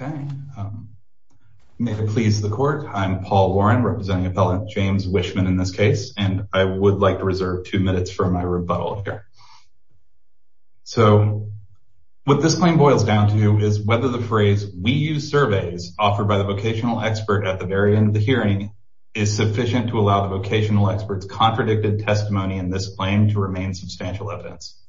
Okay, may it please the court. I'm Paul Warren representing appellant James Wischmann in this case and I would like to reserve two minutes for my rebuttal here. So what this claim boils down to is whether the phrase we use surveys offered by the vocational expert at the very end of the hearing is sufficient to allow the vocational experts contradicted testimony in this claim to remain substantial evidence.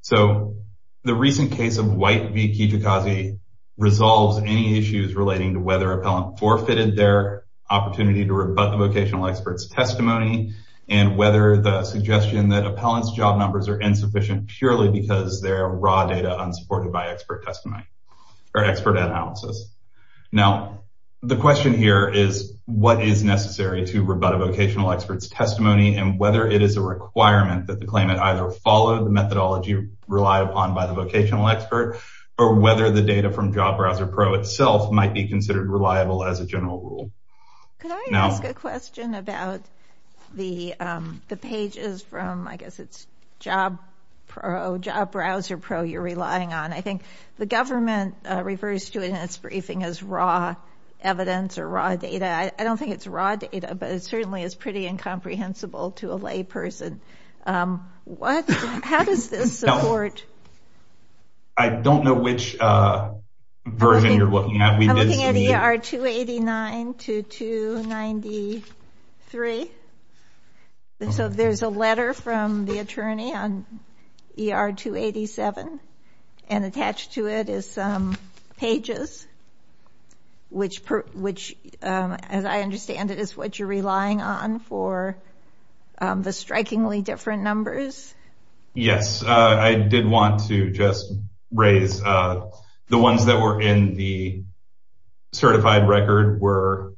So the recent case of White v. Kijakazi resolves any issues relating to whether appellant forfeited their opportunity to rebut the vocational experts testimony and whether the suggestion that appellants job numbers are insufficient purely because they're raw data unsupported by expert testimony or expert analysis. Now the question here is what is necessary to rebut a vocational experts testimony and whether it is a requirement that the claimant either follow the methodology relied upon by the vocational expert or whether the data from Job Browser Pro itself might be considered reliable as a general rule. Can I ask a question about the pages from I guess it's Job Browser Pro you're relying on. I think the government refers to it in its briefing as raw evidence or raw data. I don't think it's raw data but it certainly is pretty incomprehensible to a lay person. What? How does this support? I don't know which version you're looking at. I'm looking at ER 289 to 293. So there's a letter from the attorney on ER 287 and attached to it is some pages which as I understand it is what you're relying on for the strikingly different numbers. Yes I did want to just raise the ones that were in the certified record were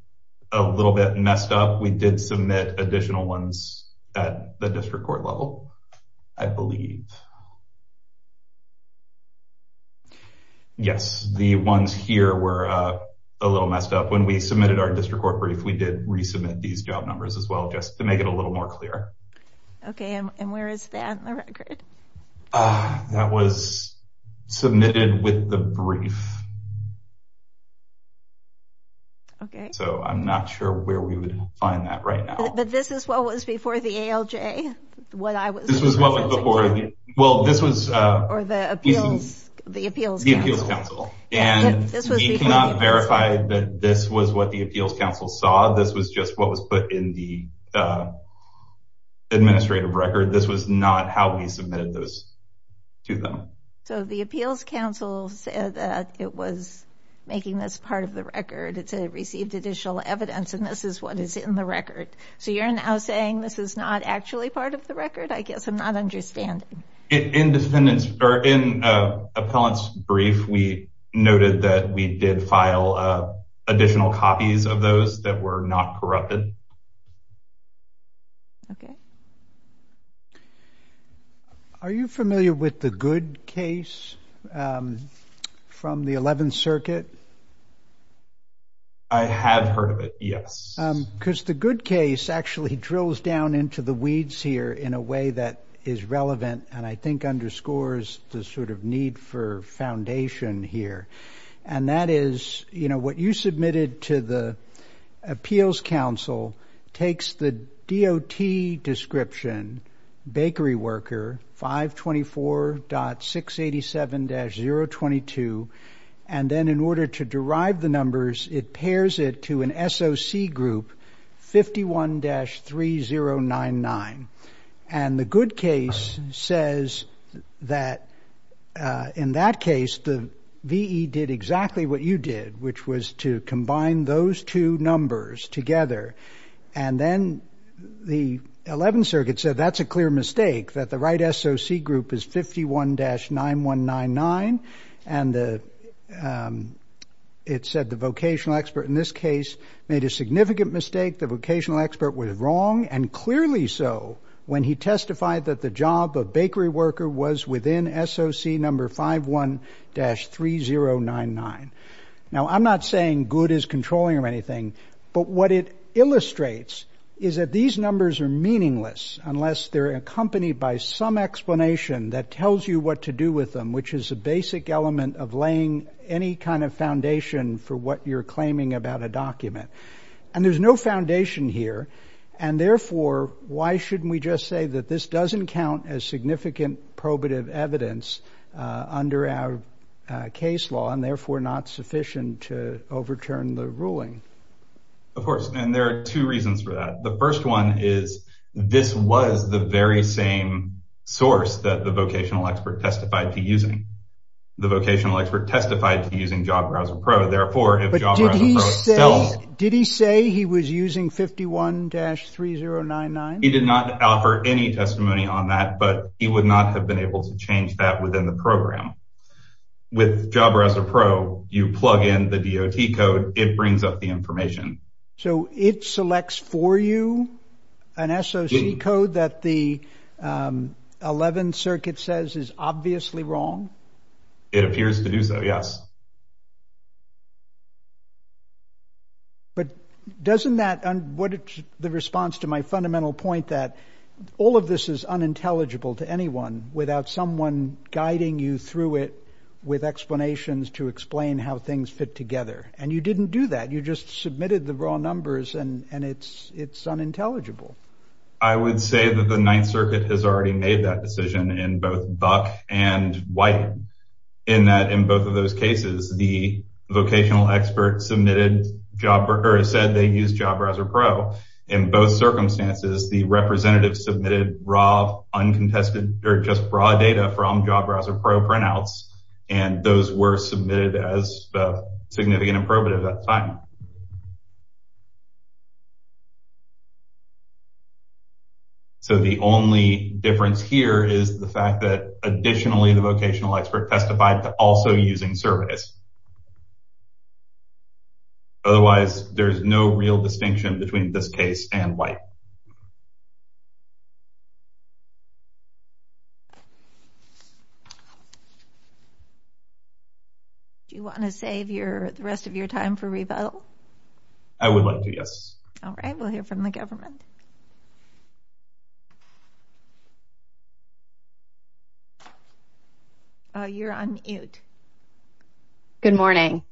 a little bit messed up. We did submit additional ones at the district court level I believe. Yes the ones here were a little messed up. When we submitted our district court brief we did resubmit these job numbers as well just to make it a little more clear. Okay and where is that in the record? That was submitted with the brief. Okay. So I'm not sure where we would find that right now. But this is what was before the ALJ what I was. This was what was before. Well this was the appeals council. And we cannot verify that this was what the appeals council saw. This was just what was put in the administrative record. This was not how we submitted those to them. So the appeals council said that it was making this part of the record. It's a received additional evidence and this is what is in the record. So you're now saying this is not actually part of the record? I guess I'm not understanding. Independence or in appellant's brief we noted that we did file additional copies of those that were not corrupted. Okay. Are you familiar with the Good case from the 11th circuit? I have heard of it yes. Because the Good case actually drills down into the weeds here in a way that is relevant. And I think underscores the sort of need for foundation here. And that is you know what you submitted to the appeals council takes the DOT description bakery worker 524.687-022. And then in order to derive the numbers it pairs it to an SOC group 51-3099. And the Good case says that in that case the VE did exactly what you did. Which was to combine those two numbers together. And then the 11th circuit said that's a clear mistake. That the right SOC group is 51-9199. And it said the vocational expert in this case made a significant mistake. The vocational expert was wrong. And clearly so when he testified that the job of bakery worker was within SOC number 51-3099. Now I'm not saying Good is controlling or anything. But what it illustrates is that these numbers are meaningless. Unless they're accompanied by some explanation that tells you what to do with them. Which is a basic element of laying any kind of foundation for what you're claiming about a document. And there's no foundation here. And therefore why shouldn't we just say that this doesn't count as significant probative evidence under our case law. And therefore not sufficient to overturn the ruling. Of course. And there are two reasons for that. The first one is this was the very same source that the vocational expert testified to using. The vocational expert testified to using Job Browser Pro. Therefore if Job Browser Pro. But did he say he was using 51-3099? He did not offer any testimony on that. But he would not have been able to change that within the program. With Job Browser Pro you plug in the DOT code. It brings up the information. So it selects for you an SOC code that the 11th Circuit says is obviously wrong? It appears to do so, yes. But doesn't that and what the response to my fundamental point that all of this is unintelligible to anyone. Without someone guiding you through it with explanations to explain how things fit together. And you didn't do that. You just submitted the raw numbers and it's unintelligible. I would say that the 9th Circuit has already made that decision in both Buck and White. In that in both of those cases the vocational expert submitted Job or said they used Job Browser Pro. In both circumstances the representative submitted raw uncontested or just raw data from Job Browser Pro printouts. So the only difference here is the fact that additionally the vocational expert testified to also using surveys. Otherwise there's no real distinction between this case and White. Do you want to save the rest of your time for rebuttal? I would like to, yes. All right, we'll hear from the government. You're on mute. Good morning.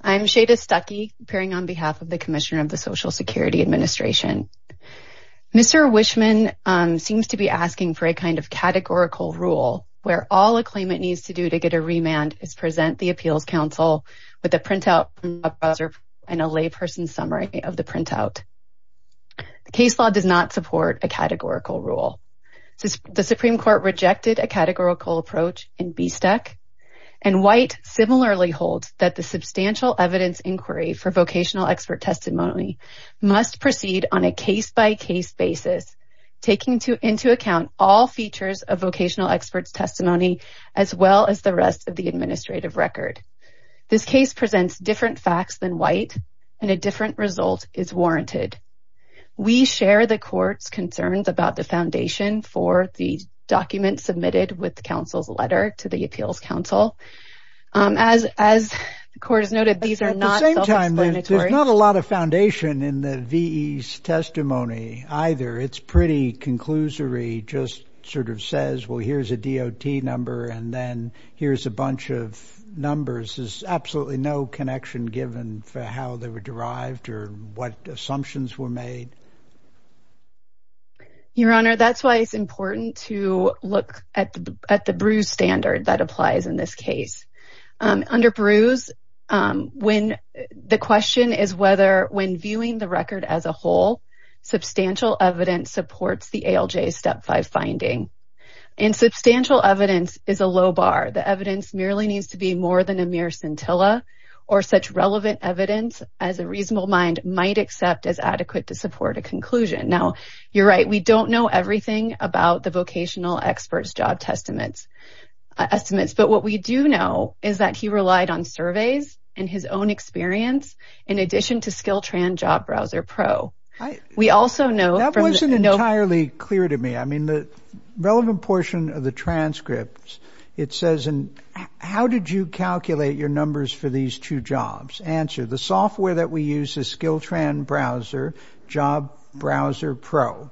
I'm Shada Stuckey appearing on behalf of the Commissioner of the Social Security Administration. Mr. Wishman seems to be asking for a kind of categorical rule where all a claimant needs to do to get a remand is present the Appeals Council with a printout and a layperson summary of the printout. The case law does not support a categorical rule. The Supreme Court rejected a categorical approach in BSTEC and White similarly holds that the substantial evidence inquiry for vocational expert testimony must proceed on a case-by-case basis taking into account all features of vocational experts testimony as well as the rest of the administrative record. This case presents different facts than White and a different result is warranted. We share the court's concerns about the foundation for the document submitted with the council's letter to the Appeals Council. There's not a lot of foundation in the VE's testimony either. It's pretty conclusory. Just sort of says, well, here's a DOT number and then here's a bunch of numbers. There's absolutely no connection given for how they were derived or what assumptions were made. Your Honor, that's why it's important to look at the Bruce standard that applies in this case. Under Bruce, the question is whether when viewing the record as a whole, substantial evidence supports the ALJ Step 5 finding. And substantial evidence is a low bar. The evidence merely needs to be more than a mere scintilla or such relevant evidence as a reasonable mind might accept as adequate to support a conclusion. Now, you're right. We don't know everything about the vocational experts job estimates. But what we do know is that he relied on surveys and his own experience in addition to SkillTran Job Browser Pro. We also know... That wasn't entirely clear to me. I mean, the relevant portion of the transcript, it says, how did you calculate your numbers for these two jobs? Answer, the software that we use is SkillTran Browser, Job Browser Pro.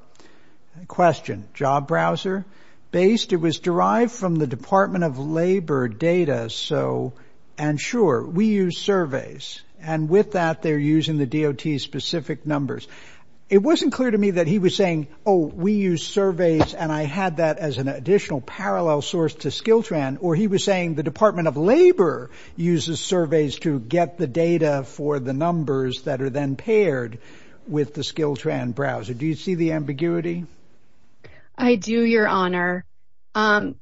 Question, Job Browser based? It was derived from the Department of Labor data. So and sure, we use surveys. And with that, they're using the DOT specific numbers. It wasn't clear to me that he was saying, oh, we use surveys. And I had that as an additional parallel source to SkillTran. Or he was saying the Department of Labor uses surveys to get the data for the numbers that are then paired with the SkillTran Browser. Do you see the ambiguity? I do, Your Honor.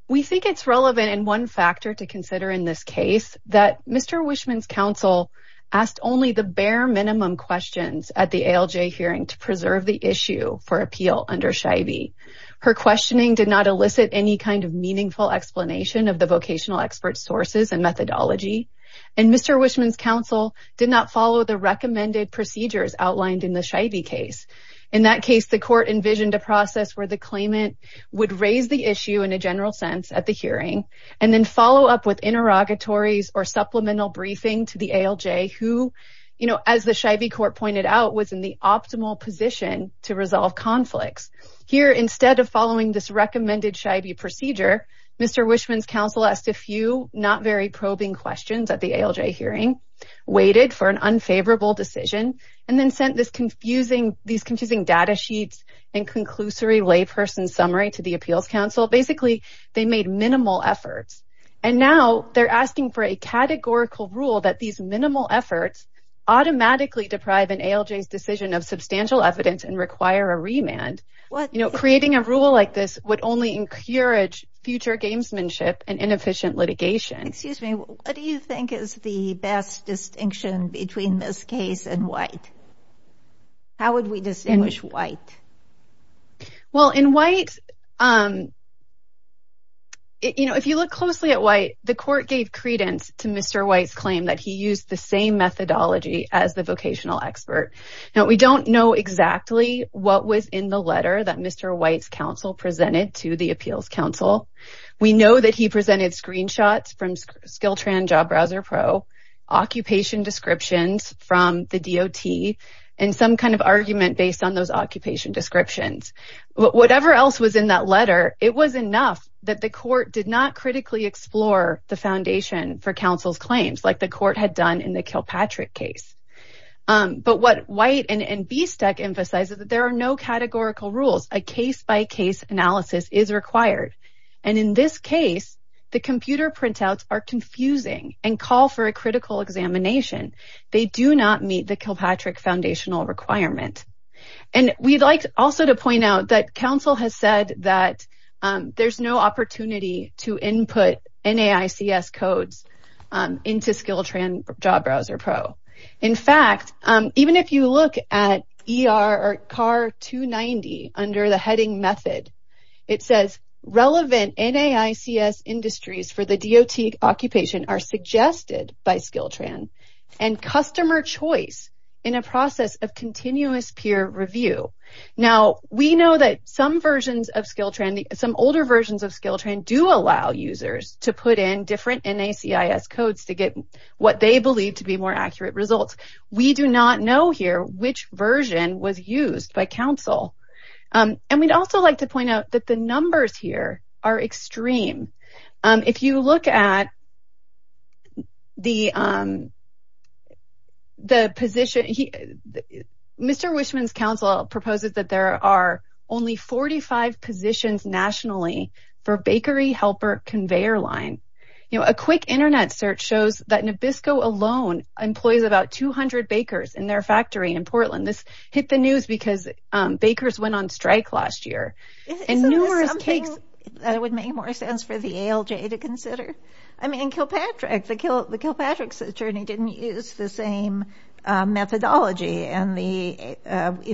We think it's relevant in one factor to consider in this case that Mr. Wishman's counsel asked only the bare minimum questions at the ALJ hearing to preserve the issue for appeal under Scheibe. Her questioning did not elicit any kind of meaningful explanation of the vocational expert sources and methodology. And Mr. Wishman's counsel did not follow the recommended procedures outlined in the Scheibe case. In that case, the court envisioned a process where the claimant would raise the issue and general sense at the hearing and then follow up with interrogatories or supplemental briefing to the ALJ who, you know, as the Scheibe court pointed out, was in the optimal position to resolve conflicts. Here, instead of following this recommended Scheibe procedure, Mr. Wishman's counsel asked a few not very probing questions at the ALJ hearing, waited for an unfavorable decision, and then sent these confusing data sheets and conclusory layperson summary to the appeals counsel. Basically, they made minimal efforts. And now, they're asking for a categorical rule that these minimal efforts automatically deprive an ALJ's decision of substantial evidence and require a remand. You know, creating a rule like this would only encourage future gamesmanship and inefficient litigation. Excuse me, what do you think is the best distinction between this case and White? How would we distinguish White? Well, in White, you know, if you look closely at White, the court gave credence to Mr. White's claim that he used the same methodology as the vocational expert. Now, we don't know exactly what was in the letter that Mr. White's counsel presented to the appeals counsel. We know that he presented screenshots from Skiltran Job Browser Pro, occupation descriptions from the DOT, and some kind of argument based on those occupation descriptions. Whatever else was in that letter, it was enough that the court did not critically explore the foundation for counsel's claims like the court had done in the Kilpatrick case. But what White and BSTEC emphasize is that there are no categorical rules. A case-by-case analysis is required. And in this case, the computer printouts are confusing and call for a critical examination. They do not meet the Kilpatrick foundational requirement. And we'd like also to point out that counsel has said that there's no opportunity to input NAICS codes into Skiltran Job Browser Pro. In fact, even if you look at ER or CAR 290 under the heading method, it says relevant NAICS industries for the DOT occupation are suggested by Skiltran and customer choice in a process of continuous peer review. Now, we know that some versions of Skiltran, some older versions of Skiltran do allow users to put in different NAICS codes to get what they believe to be more accurate results. We do not know here which version was used by counsel. And we'd also like to point out that the numbers here are extreme. If you look at the position, Mr. Wishman's counsel proposes that there are only 45 positions nationally for bakery helper conveyor line. You know, a quick internet search shows that Nabisco alone employs about 200 bakers in their factory in Portland. Hit the news because bakers went on strike last year. Isn't this something that would make more sense for the ALJ to consider? I mean, Kilpatrick, the Kilpatrick's attorney didn't use the same methodology and we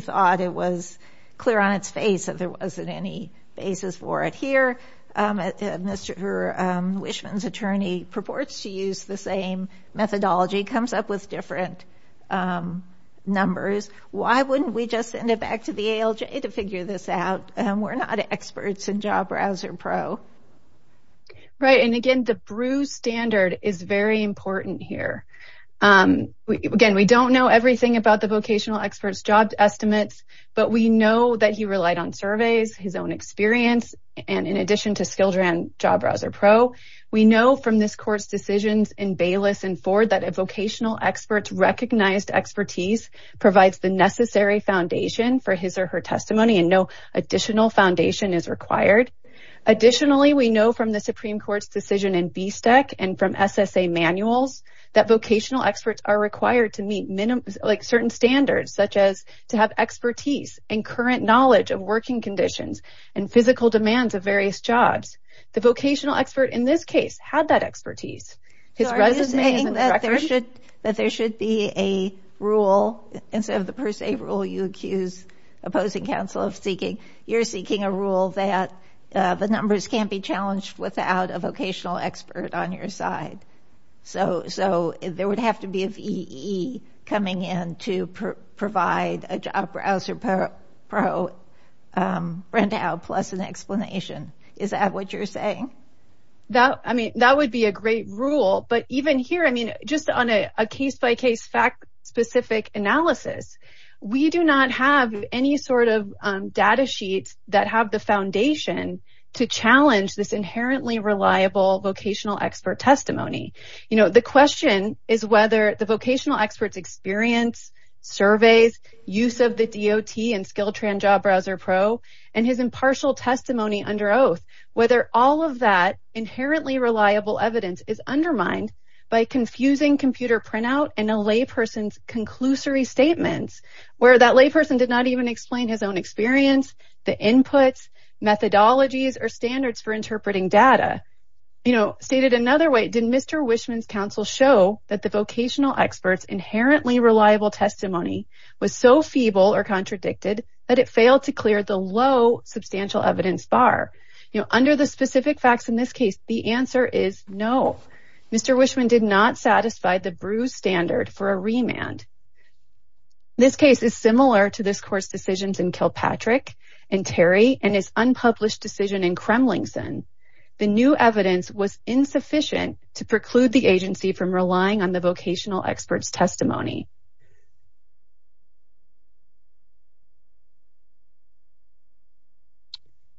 thought it was clear on its face that there wasn't any basis for it. Here, Mr. Wishman's attorney purports to use the same methodology, comes up with different numbers. Why wouldn't we just send it back to the ALJ to figure this out? We're not experts in Job Browser Pro. Right. And again, the BRU standard is very important here. Again, we don't know everything about the vocational expert's job estimates, but we know that he relied on surveys, his own experience. And in addition to Skiltran Job Browser Pro, we know from this court's decisions in Bayless and Ford that a vocational expert's recognized expertise provides the necessary foundation for his or her testimony and no additional foundation is required. Additionally, we know from the Supreme Court's decision in BSTEC and from SSA manuals that vocational experts are required to meet certain standards, such as to have expertise and current knowledge of working conditions and physical demands of various jobs. The vocational expert in this case had that expertise. So are you saying that there should be a rule instead of the per se rule you accuse opposing counsel of seeking? You're seeking a rule that the numbers can't be challenged without a vocational expert on your side. So there would have to be a VEE coming in to provide a Job Browser Pro rent-out plus an explanation. Is that what you're saying? That, I mean, that would be a great rule. But even here, I mean, just on a case-by-case fact-specific analysis, we do not have any sort of data sheets that have the foundation to challenge this inherently reliable vocational expert testimony. You know, the question is whether the vocational expert's experience, surveys, use of the DOT and Skiltran Job Browser Pro, and his impartial testimony under oath, whether all of that inherently reliable evidence is undermined by confusing computer printout and a layperson's conclusory statements, where that layperson did not even explain his own experience, the inputs, methodologies, or standards for interpreting data. You know, stated another way, did Mr. Wishman's counsel show that the vocational expert's inherently reliable testimony was so feeble or contradicted that it failed to clear the low substantial evidence bar? You know, under the specific facts in this case, the answer is no. Mr. Wishman did not satisfy the BREWS standard for a remand. This case is similar to this court's decisions in Kilpatrick and Terry and his unpublished decision in Kremlinson. The new evidence was insufficient to preclude the agency from relying on the vocational expert's testimony.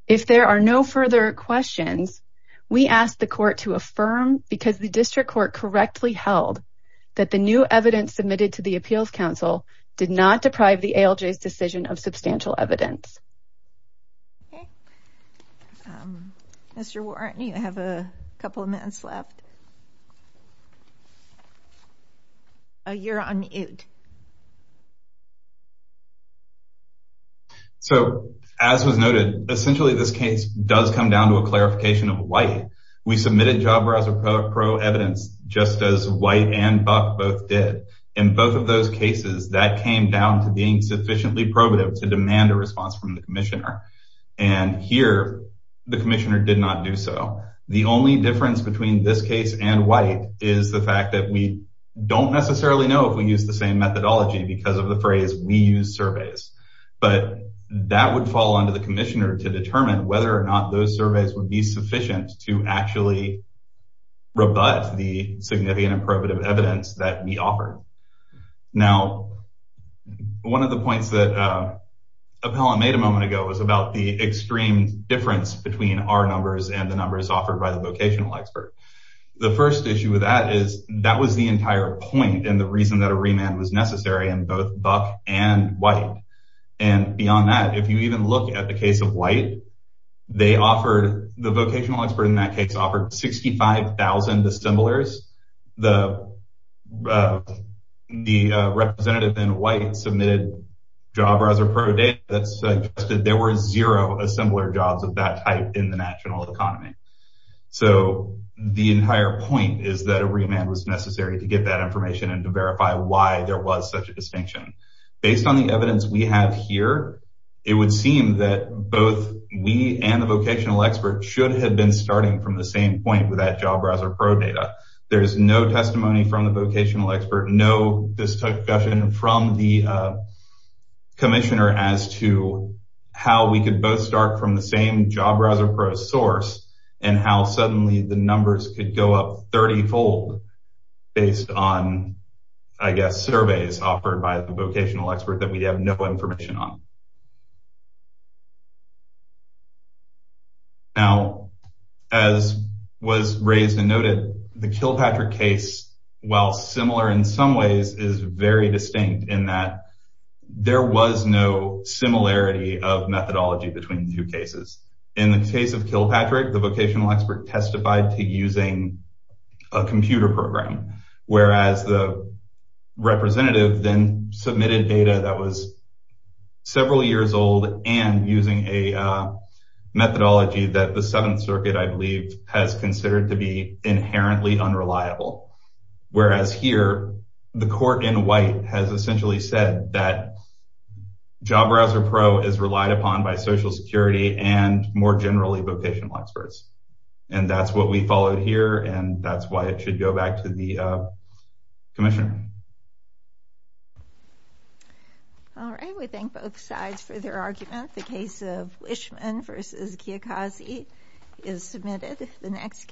If there are no further questions, we ask the court to affirm, because the district court correctly held, that the new evidence submitted to the appeals counsel did not deprive the ALJ's decision of substantial evidence. Okay. Mr. Warren, you have a couple of minutes left. A year on me. Ood. So, as was noted, essentially this case does come down to a clarification of white. We submitted job browser pro evidence, just as white and buck both did. In both of those cases, that came down to being sufficiently probative to demand a response from the commissioner. And here, the commissioner did not do so. The only difference between this case and white is the fact that we don't necessarily know if we use the same methodology because of the phrase, we use surveys. But that would fall under the commissioner to determine whether or not those surveys would be sufficient to actually rebut the significant and probative evidence that we offered. Now, one of the points that Appellant made a moment ago was about the extreme difference between our numbers and the numbers offered by the vocational expert. The first issue with that is that was the entire point and the reason that a remand was necessary in both buck and white. And beyond that, if you even look at the case of white, the vocational expert in that case offered 65,000 assemblers. The representative in white submitted job browser pro data that suggested there were zero assembler jobs of that type in the national economy. So, the entire point is that a remand was necessary to get that information and to verify why there was such a distinction. Based on the evidence we have here, it would seem that both we and the vocational expert should have been starting from the same point with that job browser pro data. There's no testimony from the vocational expert, no discussion from the commissioner as to how we could both start from the same job browser pro source and how suddenly the numbers could go up 30-fold based on, I guess, surveys offered by the vocational expert that we have no information on. Now, as was raised and noted, the Kilpatrick case, while similar in some ways, is very similarity of methodology between the two cases. In the case of Kilpatrick, the vocational expert testified to using a computer program, whereas the representative then submitted data that was several years old and using a methodology that the Seventh Circuit, I believe, has considered to be inherently unreliable. Whereas here, the court in white has essentially said that job browser pro is relied upon by Social Security and, more generally, vocational experts. That's what we followed here, and that's why it should go back to the commissioner. All right. We thank both sides for their argument. The case of Wischman v. Kiyokazi is submitted.